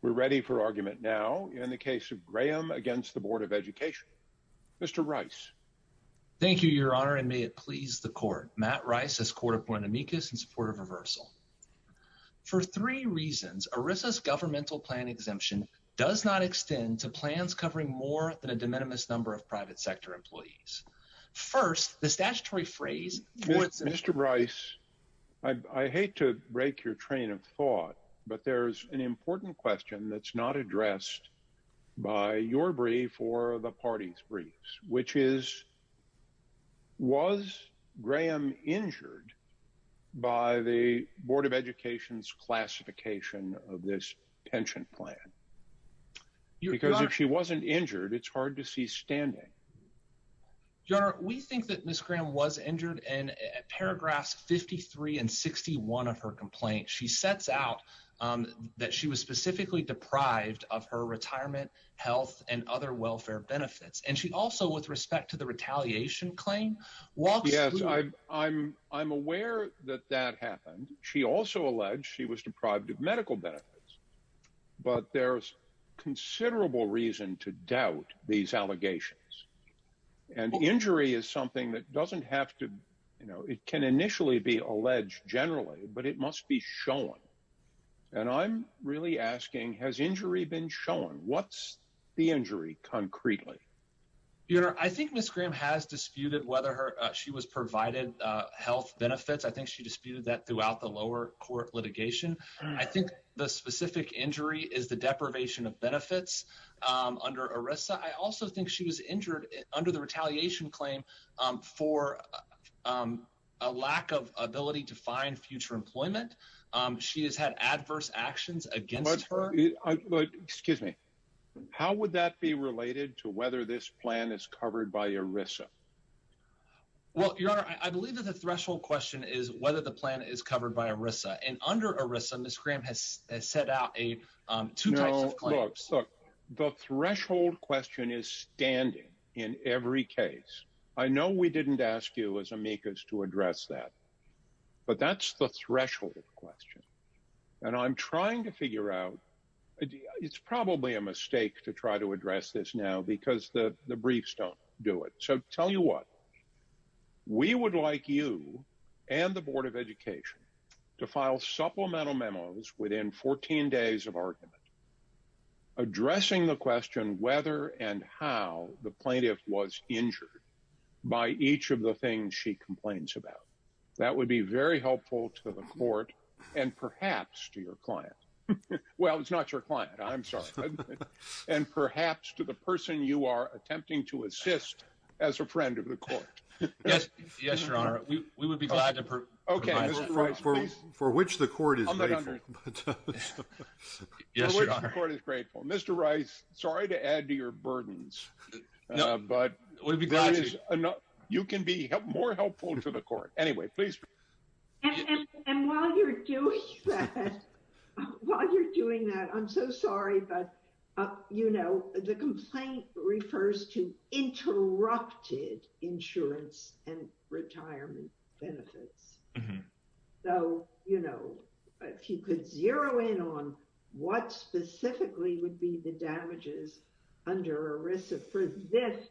We're ready for argument now in the case of Graham against the Board of Education. Mr. Rice. Thank you, Your Honor, and may it please the Court. Matt Rice, as Court Appointee, is in support of reversal. For three reasons, ERISA's governmental plan exemption does not extend to plans covering more than a de minimis number of private sector employees. First, the statutory phrase... Mr. Rice, I hate to break your train of thought, but there's an important question that's not addressed by your brief or the party's briefs, which is, was Graham injured by the Board of Education's classification of this pension plan? Your Honor... Because if she wasn't injured, it's hard to see standing. Your Honor, we think that Ms. Graham was injured. In paragraphs 53 and 61 of her complaint, she sets out that she was specifically deprived of her retirement, health, and other welfare benefits. And she also, with respect to the retaliation claim, walks through... Yes, I'm aware that that happened. She also alleged she was deprived of medical benefits, but there's considerable reason to doubt these allegations. And injury is something that doesn't have to... It can initially be alleged generally, but it must be shown. And I'm really asking, has injury been shown? What's the injury, concretely? Your Honor, I think Ms. Graham has disputed whether she was provided health benefits. I think she disputed that throughout the lower court litigation. I think the specific injury is the deprivation of benefits under ERISA. I also think she was injured under the retaliation claim for a lack of ability to find future employment. She has had adverse actions against her. But, excuse me, how would that be related to whether this plan is covered by ERISA? Well, Your Honor, I believe that the threshold question is whether the plan is covered by ERISA. And under ERISA, Ms. Graham has set out two types of claims. No, look, the threshold question is standing in every case. I know we didn't ask you as amicus to address that, but that's the threshold question. And I'm trying to figure out... It's probably a mistake to try to address this now because the briefs don't do it. So tell you what, we would like you and the Board of Education to file supplemental memos within 14 days of argument addressing the question whether and how the plaintiff was injured by each of the things she complains about. That would be very helpful to the court and perhaps to your client. Well, it's not your client. I'm sorry. And perhaps to the person you are attempting to assist as a friend of the court. Yes, Your Honor, we would be glad to provide that. For which the court is grateful. Yes, Your Honor. For which the court is grateful. Mr. Rice, sorry to add to your burdens, but you can be more helpful to the court. Anyway, please. And while you're doing that, I'm so sorry, but, you know, the complaint refers to interrupted insurance and retirement benefits. So, you know, if you could zero in on what specifically would be the damages under ERISA for this,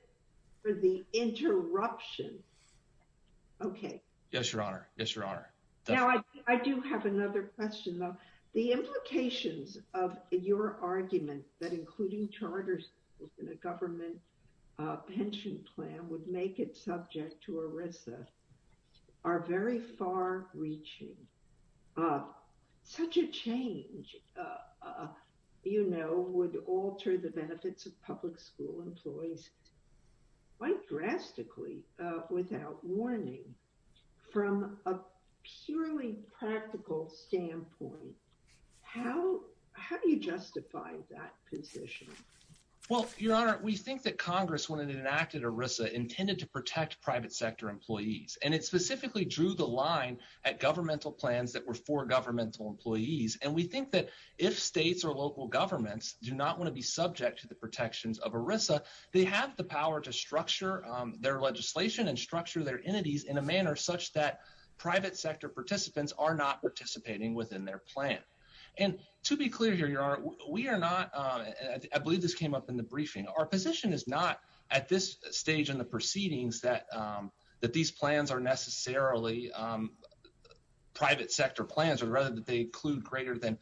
for the interruption. Okay. Yes, Your Honor. Yes, Your Honor. Now, I do have another question, though. The implications of your argument that including charters in a government pension plan would make it subject to ERISA are very far reaching. Such a change, you know, would alter the benefits of public school employees quite drastically without warning. From a purely practical standpoint, how do you justify that position? Well, Your Honor, we think that Congress, when it enacted ERISA, intended to protect private sector employees. And it specifically drew the line at governmental plans that were for governmental employees. And we think that if states or local governments do not want to be subject to the protections of ERISA, they have the power to structure their legislation and structure their entities in a manner such that private sector participants are not participating within their plan. And to be clear here, Your Honor, we are not, I believe this came up in the briefing, our position is not at this stage in the proceedings that these plans are necessarily private sector plans or rather that they include greater than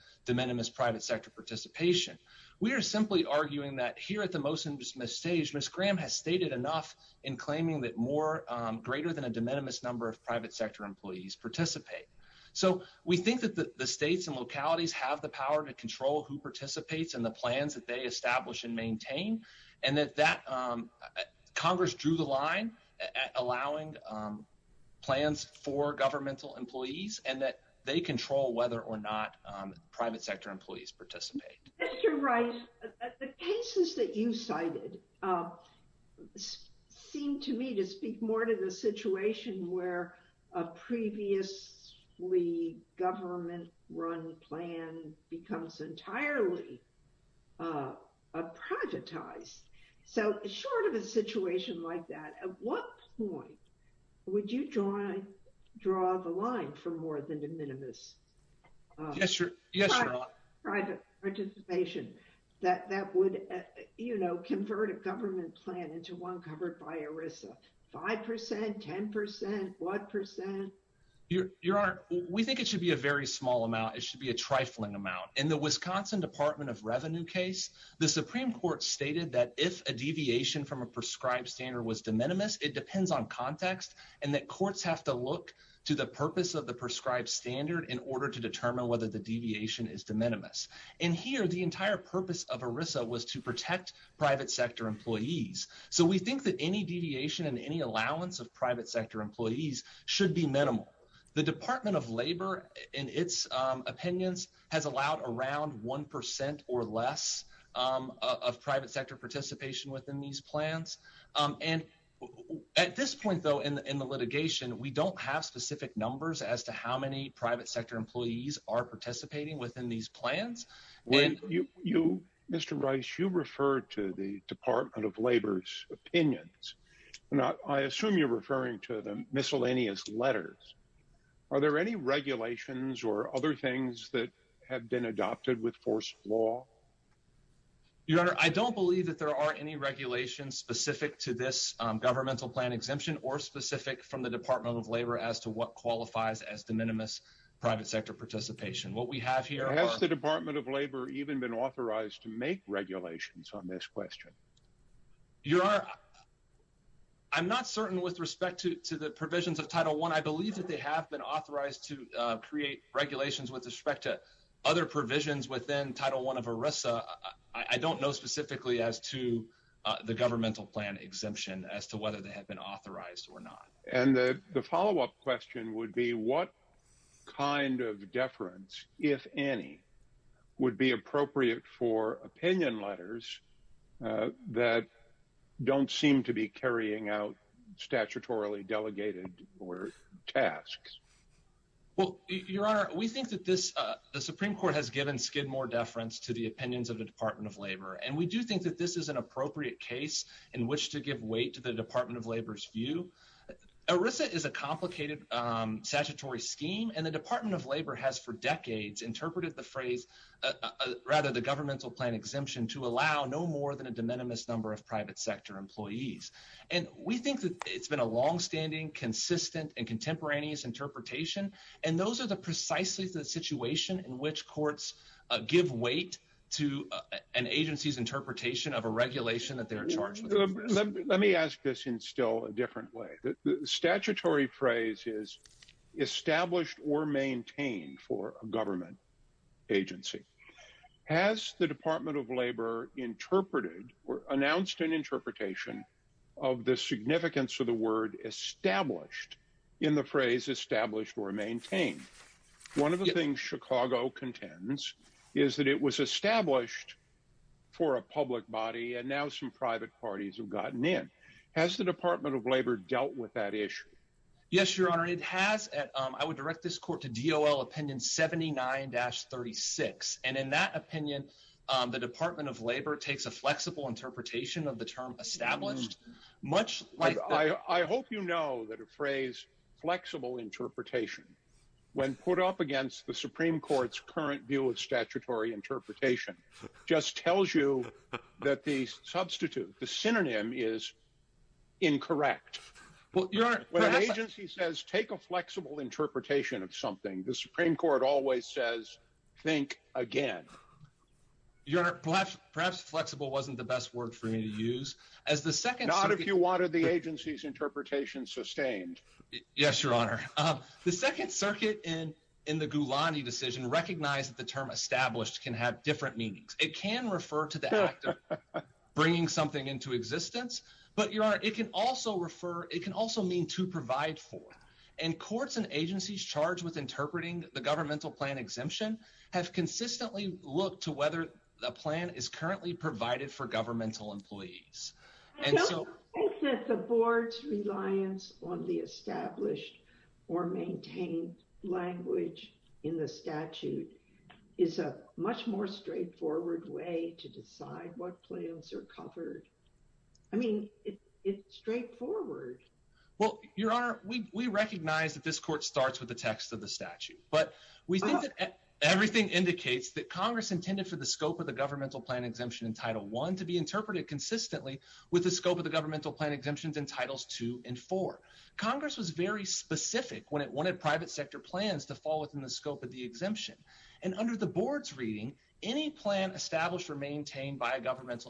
We are simply arguing that here at the motion stage, Ms. Graham has stated enough in claiming that more greater than a de minimis number of private sector employees participate. So we think that the states and localities have the power to control who participates in the plans that they establish and maintain. And that Congress drew the line at allowing plans for governmental employees and that they control whether or not private sector employees participate. Mr. Wright, the cases that you cited seem to me to speak more to the situation where a previously government run plan becomes entirely privatized. So short of a situation like that, what point would you draw the line for more than de minimis participation that would, you know, convert a government plan into one covered by ERISA? 5%, 10%, what percent? Your Honor, we think it should be a very small amount. It should be a trifling amount. In the Wisconsin Department of Revenue case, the Supreme Court stated that if a deviation from a prescribed standard was de minimis, it depends on context and that courts have to look to the purpose of the prescribed standard in order to determine whether the deviation is de minimis. And here, the entire purpose of ERISA was to protect private sector employees. So we think that any deviation and any allowance of private sector employees should be minimal. The Department of Labor, in its opinions, has allowed around 1% or less of private sector participation within these plans. And at this point, though, in the litigation, we don't have specific numbers as to how many private sector employees are participating within these plans. Mr. Rice, you referred to the Department of Labor's opinions. I assume you're referring to the miscellaneous letters. Are there any regulations or other things that have been adopted with force of law? Your Honor, I don't believe that there are any regulations specific to this governmental plan exemption or specific from the Department of Labor as to what qualifies as de minimis private sector participation. What we have here... Has the Department of Labor even been authorized to make regulations on this question? Your Honor, I'm not certain with respect to the provisions of Title I. I believe that they have been authorized to create regulations with respect to other provisions within Title I of ERISA. I don't know specifically as to the governmental plan exemption as to whether they have been authorized or not. And the follow-up question would be what kind of deference, if any, would be appropriate for opinion letters that don't seem to be carrying out statutorily delegated tasks? Well, Your Honor, we think that the Supreme Court has given skid more deference to the opinions of the Department of Labor, and we do think that this is an appropriate case in which to give weight to the Department of Labor's view. ERISA is a complicated statutory scheme, and the Department of Labor has for decades interpreted the phrase, rather the governmental plan exemption, to allow no more than a de minimis number of private sector employees. And we think that it's been a longstanding, consistent, and contemporaneous interpretation, and those are precisely the situation in which courts give weight to an agency's interpretation of a regulation that they are charged with. Let me ask this in still a different way. Statutory phrase is established or maintained for a government agency. Has the Department of Labor interpreted or announced an interpretation of the significance of the word established in the phrase established or maintained? One of the things Chicago contends is that it was established for a public body, and now some private parties have gotten in. Has the Department of Labor dealt with that issue? Yes, Your Honor, it has. I would direct this court to DOL opinion 79-36, and in that opinion, the Department of Labor takes a flexible interpretation of the term established, much like... I hope you know that a phrase, flexible interpretation, when put up against the Supreme Court's current view of statutory interpretation, just tells you that the substitute, the synonym is incorrect. Well, Your Honor... When an agency says, take a flexible interpretation of something, the Supreme Court always says, think again. Your Honor, perhaps flexible wasn't the best word for me to use. As the second... Not if you wanted the agency's interpretation sustained. Yes, Your Honor. The Second Circuit in the Gulani decision recognized that the term established can have different meanings. It can refer to the act of bringing something into existence, but Your Honor, it can also refer... It can also mean to provide for, and courts and agencies charged with interpreting the governmental plan exemption have consistently looked to whether the plan is currently provided for governmental employees, and so... I don't think that the board's reliance on the established or maintained language in the statute is a much more straightforward way to decide what plans are covered. I mean, it's straightforward. Well, Your Honor, we recognize that this court starts with the text of the statute, but we think that everything indicates that Congress intended for the scope of the governmental plan exemption in Title I to be interpreted consistently with the scope of the governmental plan exemptions in Titles II and IV. Congress was very specific when it wanted private sector plans to fall within the scope of the governmental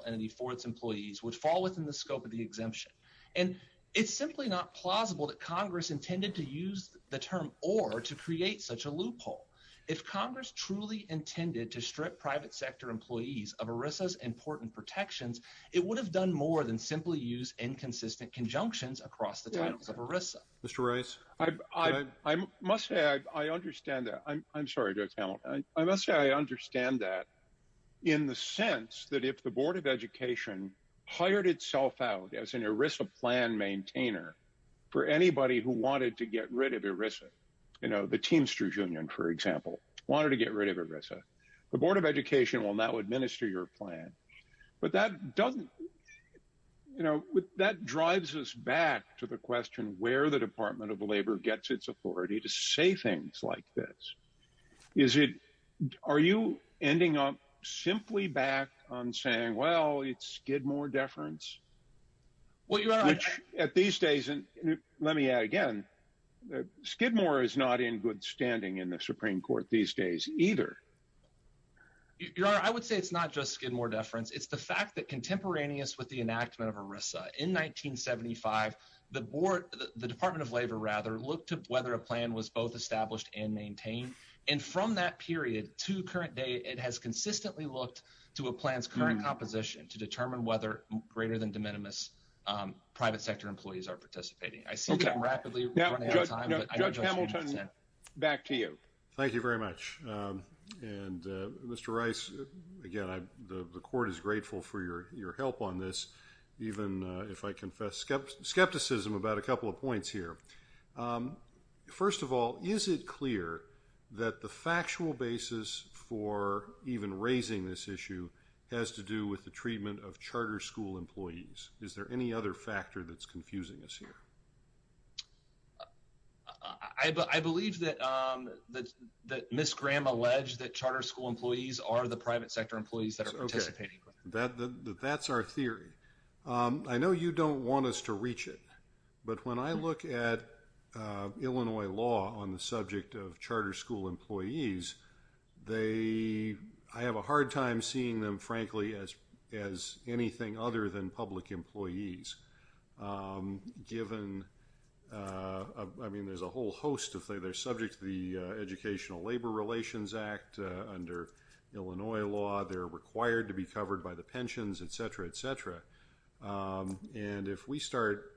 entity for its employees would fall within the scope of the exemption, and it's simply not plausible that Congress intended to use the term or to create such a loophole. If Congress truly intended to strip private sector employees of ERISA's important protections, it would have done more than simply use inconsistent conjunctions across the titles of ERISA. Mr. Rice, I must say I understand that. I'm sorry, Judge Hamilton. I must say I understand that in the sense that if the Board of Education hired itself out as an ERISA plan maintainer for anybody who wanted to get rid of ERISA, you know, the Teamsters Union, for example, wanted to get rid of ERISA, the Board of Education will now administer your plan. But that doesn't, you know, that drives us back to the question where the Department of Labor gets its authority to say things like this. Is it, are you ending up simply back on saying, well, it's Skidmore deference? Which at these days, and let me add again, Skidmore is not in good standing in the Supreme Court these days either. Your Honor, I would say it's not just Skidmore deference. It's the fact that contemporaneous with the enactment of ERISA in 1975, the Board, the Department of Labor, the Board of Education, the Board of Education, the Board of Education has a constant view that ERISA plan was both established and maintained. And from that period to current day, it has consistently looked to a plan's current composition to determine whether greater than de minimis private sector employees are participating. I see I'm rapidly running out of time. Judge Hamilton, back to you. Thank you very much. And Mr. Rice, again, the Court is grateful for your help on this, even if I confess skepticism about a couple of points here. First of all, is it clear that the factual basis for even raising this issue has to do with the treatment of charter school employees? Is there any other factor that's confusing us here? I believe that Ms. Graham alleged that charter school employees are the private sector employees that are participating. That's our theory. I know you don't want us to reach it, but when I look at Illinois law on the subject of charter school employees, I have a hard time seeing them, frankly, as anything other than public employees, given, I mean, there's a whole host of things. They're subject to the Educational Labor Relations Act under Illinois law. They're required to be covered by the pensions, et cetera, et cetera. And if we start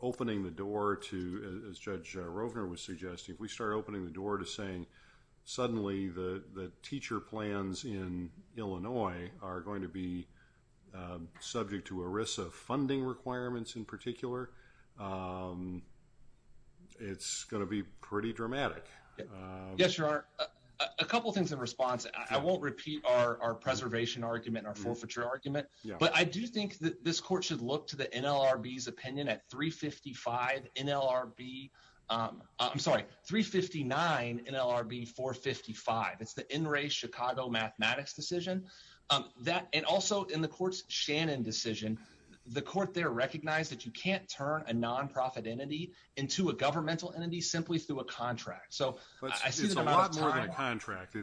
opening the door to, as Judge Rovner was suggesting, if we start opening the door to saying suddenly the teacher plans in Illinois are going to be subject to ERISA funding in particular, it's going to be pretty dramatic. Yes, Your Honor. A couple of things in response. I won't repeat our preservation argument, our forfeiture argument, but I do think that this court should look to the NLRB's opinion at 355 NLRB, I'm sorry, 359 NLRB 455. It's the NRA Chicago mathematics decision. And also in the court's Shannon decision, the court there recognized that you can't turn a nonprofit entity into a governmental entity simply through a contract. So I see that a lot of times. It's a lot more than a contract.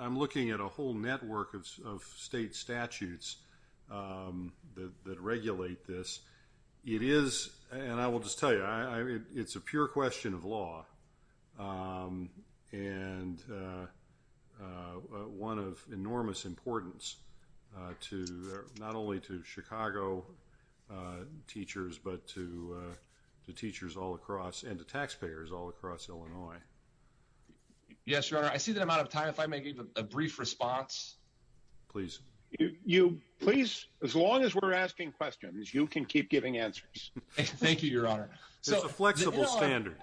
I'm looking at a whole network of state statutes that regulate this. It is, and I will just tell you, it's a pure question of law and one of enormous importance to not only to Chicago teachers, but to teachers all across and to taxpayers all across Illinois. Yes, Your Honor. I see that I'm out of time. If I may give a brief response. Please. You, please, as long as we're asking questions, you can keep giving answers. Thank you, Your Honor. It's a flexible standard.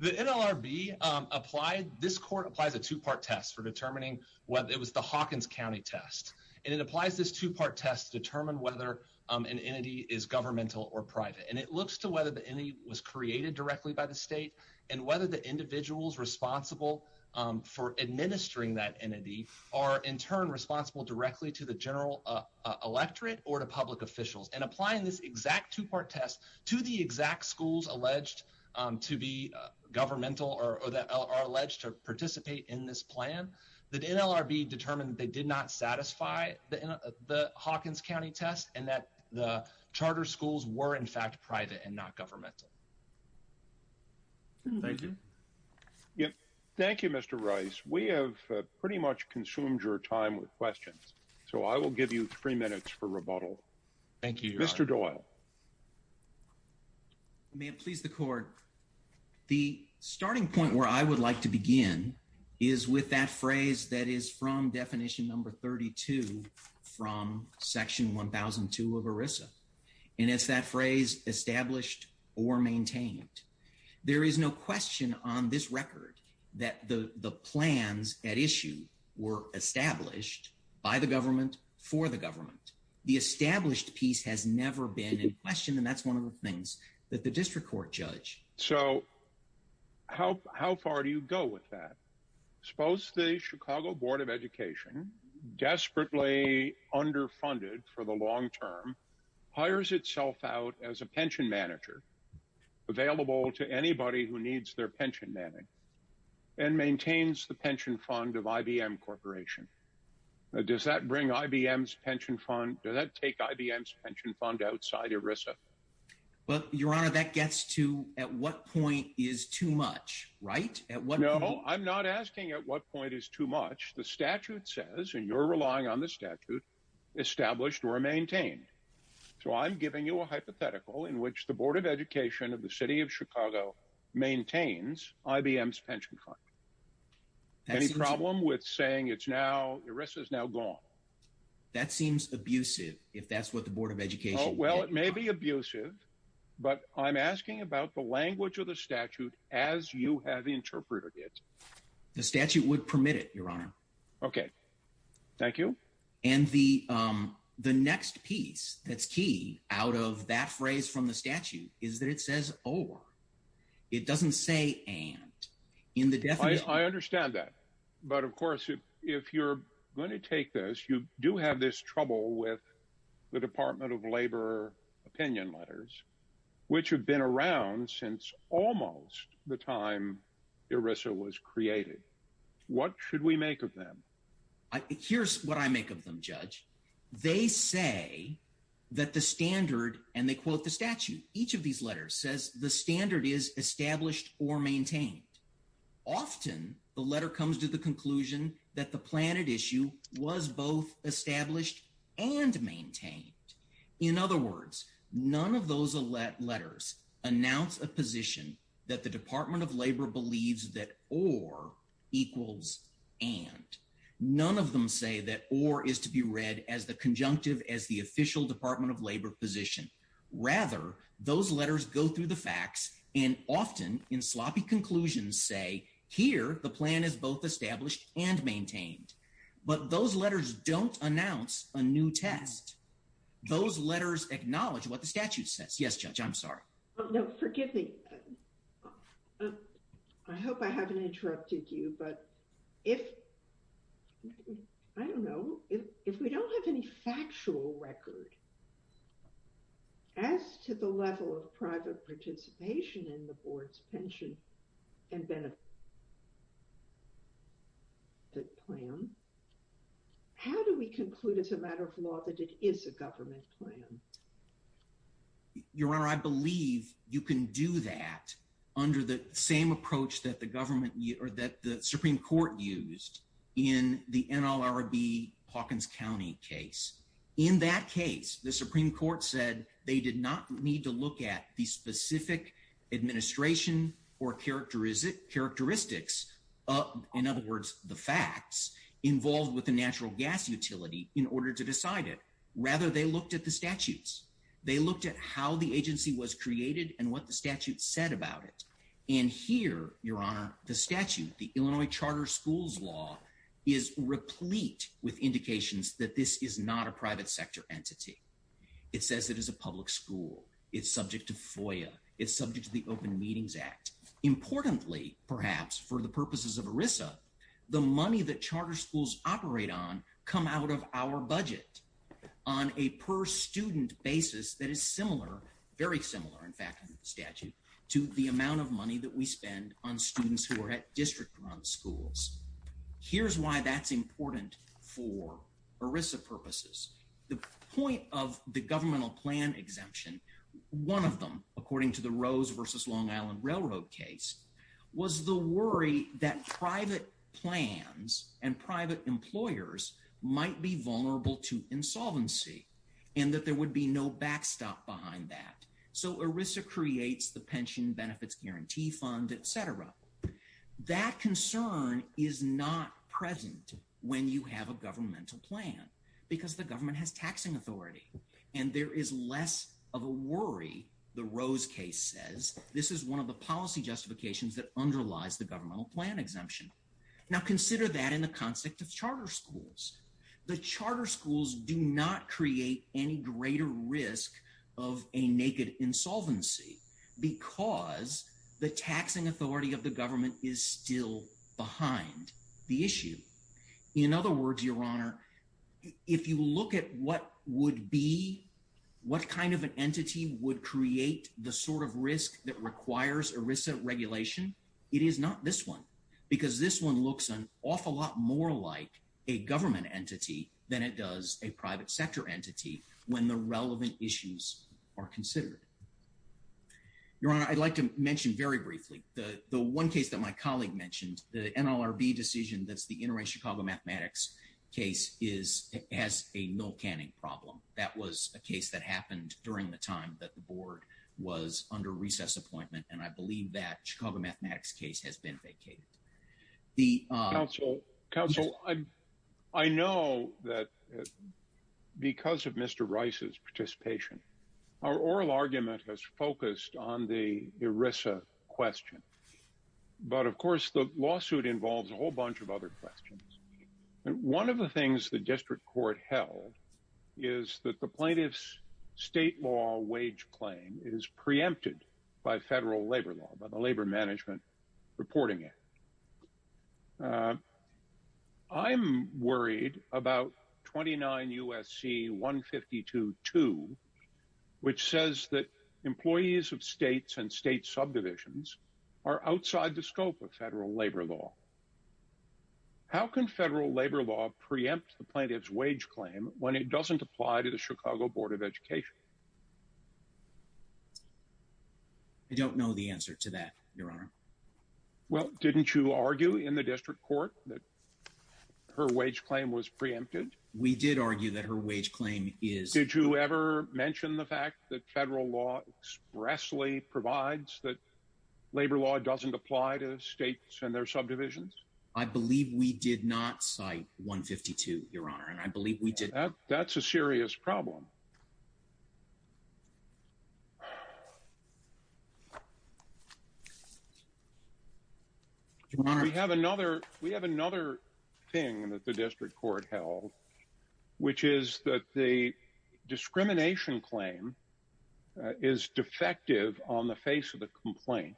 The NLRB applied, this court applies a two-part test for determining whether it was the Hawkins County test. And it applies this two-part test to determine whether an entity is governmental or private. And it looks to whether the entity was created directly by the state and whether the individuals responsible for administering that entity are in turn responsible directly to the electorate or to public officials. And applying this exact two-part test to the exact schools alleged to be governmental or that are alleged to participate in this plan, the NLRB determined they did not satisfy the Hawkins County test and that the charter schools were in fact private and not governmental. Thank you. Thank you, Mr. Rice. We have pretty much consumed your time with three minutes for rebuttal. Thank you, Your Honor. Mr. Doyle. May it please the court. The starting point where I would like to begin is with that phrase that is from definition number 32 from section 1002 of ERISA. And it's that phrase established or maintained. There is no question on this record that the plans at issue were established by the for the government. The established piece has never been in question. And that's one of the things that the district court judge. So how far do you go with that? Suppose the Chicago Board of Education desperately underfunded for the long term, hires itself out as a pension manager available to anybody who needs their pension manning and maintains the pension fund of IBM Corporation. Does that bring IBM's pension fund? Does that take IBM's pension fund outside ERISA? Well, Your Honor, that gets to at what point is too much right at what? No, I'm not asking at what point is too much. The statute says and you're relying on the statute established or maintained. So I'm giving you a hypothetical in which the Board of Education of the city of Chicago maintains IBM's pension fund. Any problem with saying it's now ERISA is now gone? That seems abusive if that's what the Board of Education. Well, it may be abusive, but I'm asking about the language of the statute as you have interpreted it. The statute would permit it, Your Honor. Okay. Thank you. And the the next piece that's key out of that phrase from the statute is that it says or it doesn't say and in the definition. I understand that. But of course, if you're going to take this, you do have this trouble with the Department of Labor opinion letters, which have been around since almost the time ERISA was created. What should we make of them? Here's what I make of them, Judge. They say that the standard and they quote the statute. Each of these letters says the standard is established or maintained. Often the letter comes to the conclusion that the planet issue was both established and maintained. In other words, none of those letters announce a position that the Department of Labor believes that or equals and none of them say that or is to be as the conjunctive as the official Department of Labor position. Rather, those letters go through the facts and often in sloppy conclusions say here the plan is both established and maintained. But those letters don't announce a new test. Those letters acknowledge what the statute says. Yes, Judge. I'm sorry. No, forgive me. I hope I haven't interrupted you. But if I don't know if we don't have any factual record as to the level of private participation in the board's pension and benefit plan, how do we conclude as a matter of law that it is a government plan? Your Honor, I believe you can do that under the same approach that the government or that the case. In that case, the Supreme Court said they did not need to look at the specific administration or characteristic characteristics. In other words, the facts involved with the natural gas utility in order to decide it. Rather, they looked at the statutes. They looked at how the agency was created and what the statute said about it. And here, Your Honor, the statute, the Illinois that this is not a private sector entity. It says it is a public school. It's subject to FOIA. It's subject to the Open Meetings Act. Importantly, perhaps for the purposes of ERISA, the money that charter schools operate on come out of our budget on a per student basis that is similar, very similar in fact under the statute, to the amount of money that we spend on students who are eligible for the ERISA program. And I think that's why that's important for ERISA purposes. The point of the governmental plan exemption, one of them, according to the Rose versus Long Island Railroad case, was the worry that private plans and private employers might be vulnerable to insolvency and that there would be no backstop behind that. So ERISA creates the Pension Benefits Guarantee Fund, et cetera. That concern is not present when you have a governmental plan because the government has taxing authority. And there is less of a worry, the Rose case says, this is one of the policy justifications that underlies the governmental plan exemption. Now consider that in the context of charter schools. The charter schools do not create any greater risk of a naked insolvency because the taxing authority of the government is still behind the issue. In other words, Your Honor, if you look at what would be, what kind of an entity would create the sort of risk that requires ERISA regulation, it is not this one because this one looks an awful lot more like a government entity than it does a non-governmental entity. And so, the question is, how do we address that when the relevant issues are considered? Your Honor, I'd like to mention very briefly, the one case that my colleague mentioned, the NLRB decision that's the Interest Chicago Mathematics case, has a milk canning problem. That was a case that happened during the time that the Board was under recess appointment, and I believe that Chicago Mathematics case has been vacated. Counsel, I know that because of Mr. Rice's participation, our oral argument has focused on the ERISA question. But of course, the lawsuit involves a whole bunch of other questions. And one of the things the district court held is that the plaintiff's state law wage claim is preempted by federal labor law, by the Labor Management Reporting Act. I'm worried about 29 U.S.C. 152-2, which says that employees of states and state subdivisions are outside the scope of federal labor law. How can federal labor law preempt the plaintiff's wage claim when it doesn't apply to the Chicago Board of Education? I don't know the answer to that, Your Honor. Well, didn't you argue in the district court that her wage claim was preempted? We did argue that her wage claim is. Did you ever mention the fact that federal law expressly provides that labor law doesn't apply to states and their subdivisions? I believe we did not cite 152, Your Honor, and I believe we did. That's a serious problem. Your Honor. We have another thing that the district court held, which is that the discrimination claim is defective on the face of the complaint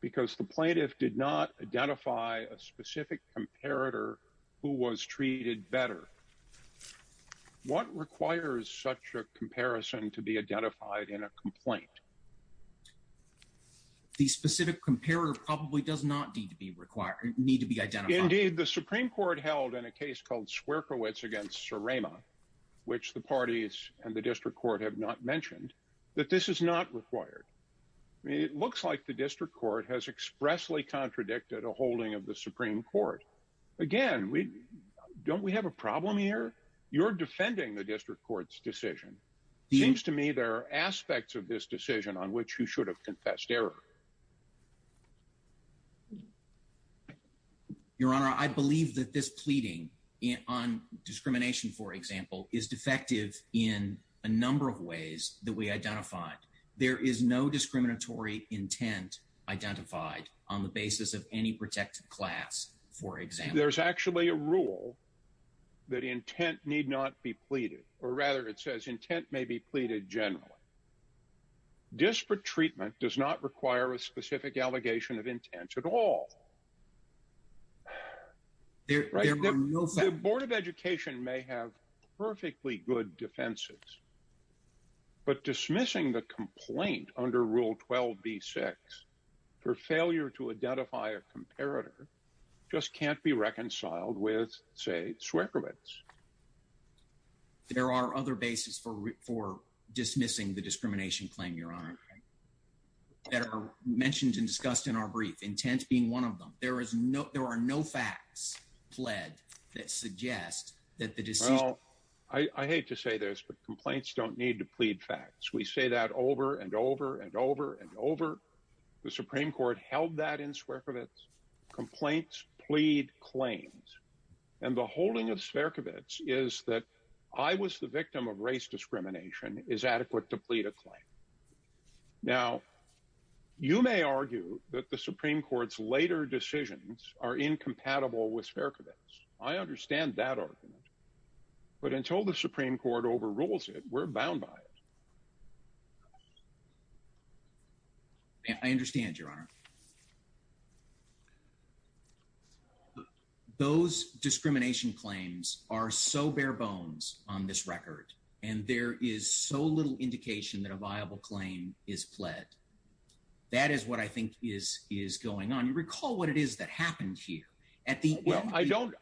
because the plaintiff did not identify a specific comparator who was treated better. What requires such a comparison to be identified in a complaint? The specific comparator probably does not need to be required, need to be identified. Indeed, the Supreme Court held in a case called Sierkiewicz against Surrema, which the parties and the district court have not mentioned, that this is not required. It looks like the district court has expressly contradicted a holding of the Supreme Court. Again, don't we have a problem here? You're defending the district court's decision. Seems to me there are aspects of this decision on which you should have confessed error. Your Honor, I believe that this pleading on discrimination, for example, is defective in a number of ways that we identified. There is no discriminatory intent identified on the basis of any protected class, for example. There's actually a rule that intent need not be pleaded, or rather it says intent may be pleaded generally. Disparate treatment does not require a specific allegation of intent at all. The Board of Education may have perfectly good defenses, but dismissing the complaint under Rule 12b-6 for failure to identify a comparator just can't be reconciled with, say, Sierkiewicz. There are other bases for dismissing the discrimination claim, Your Honor, that are mentioned and discussed in our brief, intent being one of them. There are no facts pled that suggest that the decision... I hate to say this, but complaints don't need to plead facts. We say that over and over and over and over. The Supreme Court held that in Sierkiewicz. Complaints plead claims. And the holding of Sierkiewicz is that I was the victim of race discrimination is adequate to plead a claim. Now, you may argue that the Supreme Court's later decisions are incompatible with Sierkiewicz. I understand that argument. But until the Supreme Court overrules it, we're bound by it. I understand, Your Honor. Those discrimination claims are so bare bones on this record, and there is so little indication that a viable claim is pled. That is what I think is going on. You recall what it is that happened here at the... Well, I don't.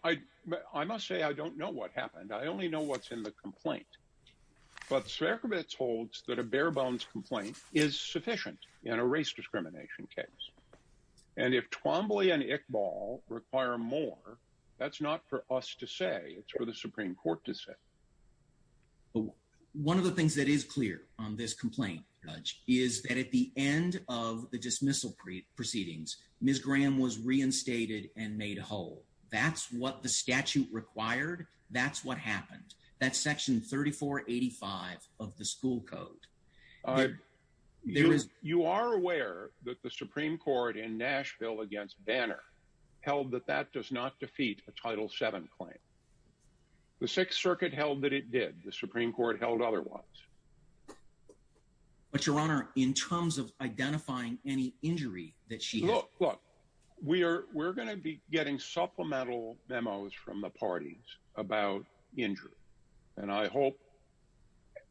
I must say I don't know what happened. I only know what's in the complaint. But Sierkiewicz holds that a bare bones complaint is sufficient in a race discrimination case. And if Twombly and Iqbal require more, that's not for us to say. It's for the Supreme Court to say. One of the things that is clear on this complaint, Judge, is that at the end of the dismissal proceedings, Ms. Graham was reinstated and made whole. That's what the statute required. That's what happened. That's Section 3485 of the school code. You are aware that the Supreme Court in Nashville against Banner held that that does not defeat a Title VII claim. The Sixth Circuit held that it did. The Supreme Court held otherwise. But, Your Honor, in terms of identifying any injury that she... Look, look. We're going to be getting supplemental memos from the parties. About injury. And I hope...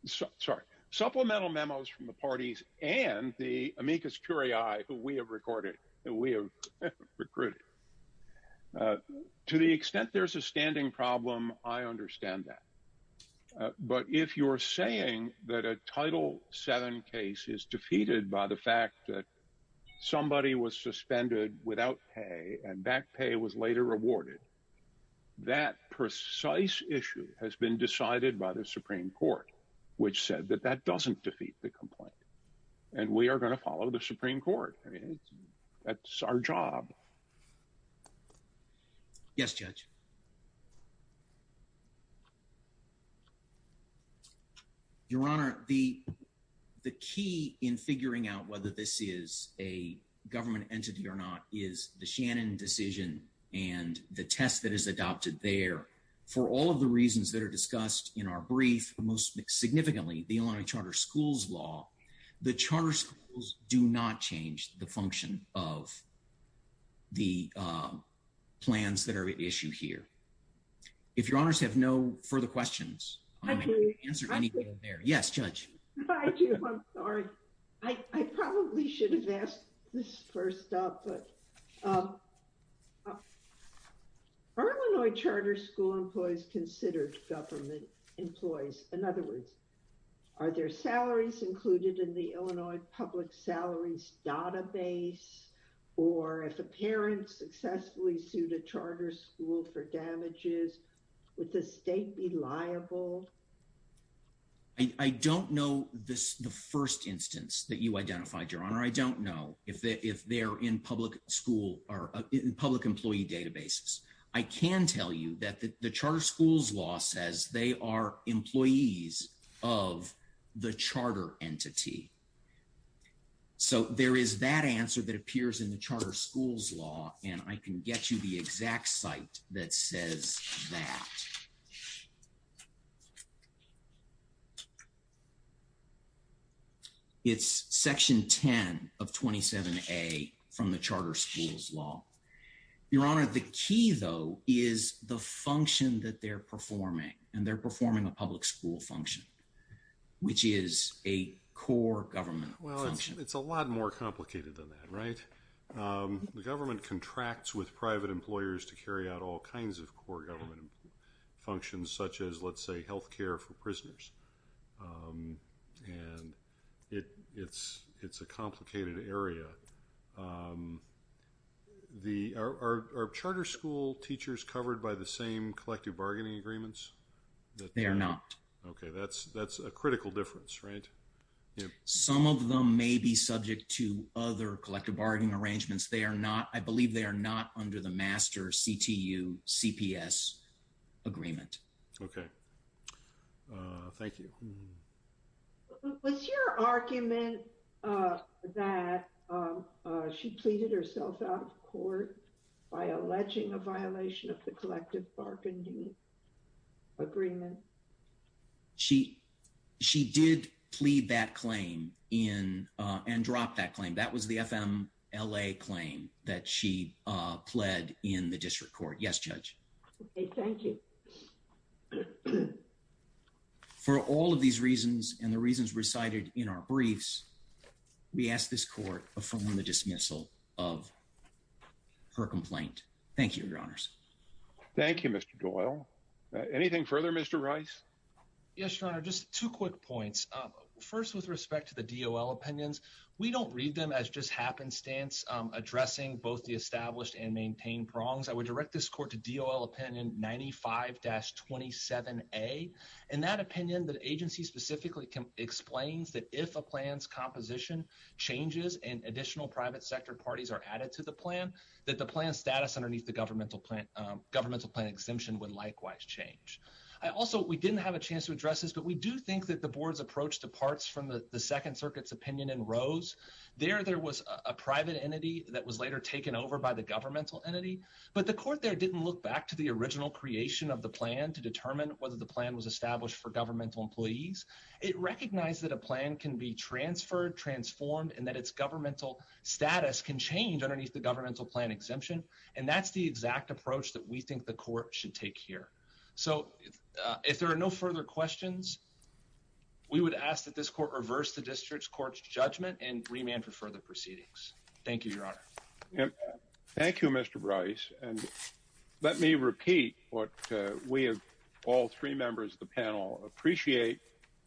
Sorry. Supplemental memos from the parties and the amicus curiae who we have recorded, who we have recruited. To the extent there's a standing problem, I understand that. But if you're saying that a Title VII case is defeated by the fact that somebody was suspended without pay and back pay was later awarded, that precise issue has been decided by the Supreme Court, which said that that doesn't defeat the complaint. And we are going to follow the Supreme Court. I mean, that's our job. Yes, Judge. Your Honor, the key in figuring out whether this is a government entity or not is the Shannon decision and the test that is adopted there. For all of the reasons that are discussed in our brief, most significantly, the Illinois Charter Schools Law, the charter schools do not change the function of the plans that are at issue here. If Your Honors have no further questions... I do. ...answer anything in there. Yes, Judge. I do. I'm sorry. I probably should have asked this first off, but are Illinois charter school employees considered government employees? In other words, are their salaries included in the Illinois public salaries database? Or if a parent successfully sued a charter school for damages, would the state be liable? I don't know if they're in public school or in public employee databases. I can tell you that the charter schools law says they are employees of the charter entity. So there is that answer that appears in the charter schools law, and I can get you the exact site that says that. It's section 10 of 27A from the charter schools law. Your Honor, the key though is the function that they're performing, and they're performing a public school function, which is a core government function. Well, it's a lot more complicated than that, right? The government contracts with private employers to carry out all kinds of core government... Functions such as, let's say, healthcare for prisoners. And it's a complicated area. Are charter school teachers covered by the same collective bargaining agreements? They are not. Okay, that's a critical difference, right? Some of them may be subject to other collective bargaining arrangements. They are not, I believe they are not under the Rochester CTU-CPS agreement. Okay, thank you. Was your argument that she pleaded herself out of court by alleging a violation of the collective bargaining agreement? She did plead that claim and dropped that claim. That was the FMLA claim that she pled in the district court. Yes, Judge. Okay, thank you. For all of these reasons and the reasons recited in our briefs, we ask this court to affirm the dismissal of her complaint. Thank you, Your Honors. Thank you, Mr. Doyle. Anything further, Mr. Rice? Yes, Your Honor, just two quick points. First, with respect to the DOL opinions, we don't read them as just happenstance addressing both the established and maintained wrongs. I would direct this court to DOL opinion 95-27A. In that opinion, the agency specifically explains that if a plan's composition changes and additional private sector parties are added to the plan, that the plan status underneath the governmental plan exemption would likewise change. I also, we didn't have a chance to address this, but we do think that the board's approach departs from the Second Circuit's opinion in Rose. There, there was a private entity that was later taken over by the governmental entity, but the court there didn't look back to the original creation of the plan to determine whether the plan was established for governmental employees. It recognized that a plan can be transferred, transformed, and that its governmental status can change underneath the governmental plan exemption. And that's the exact approach that we think the court should take here. So if there are no further questions, we would ask that this court reverse the district's court's judgment and remand for further proceedings. Thank you, Your Honor. Thank you, Mr. Bryce. And let me repeat what we have, all three members of the panel, appreciate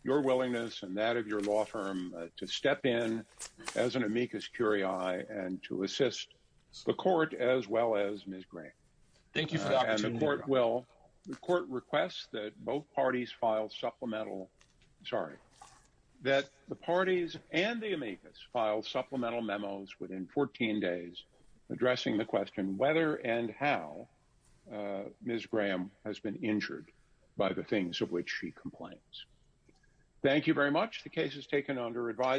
your willingness and that of your law firm to step in as an amicus curiae and to assist the court as well as Ms. Green. Thank you for the opportunity. And the court will, the court requests that both parties file supplemental, sorry, that the parties and the amicus file supplemental memos within 14 days addressing the question whether and how Ms. Graham has been injured by the things of which she complains. Thank you very much. The case is taken under advisory.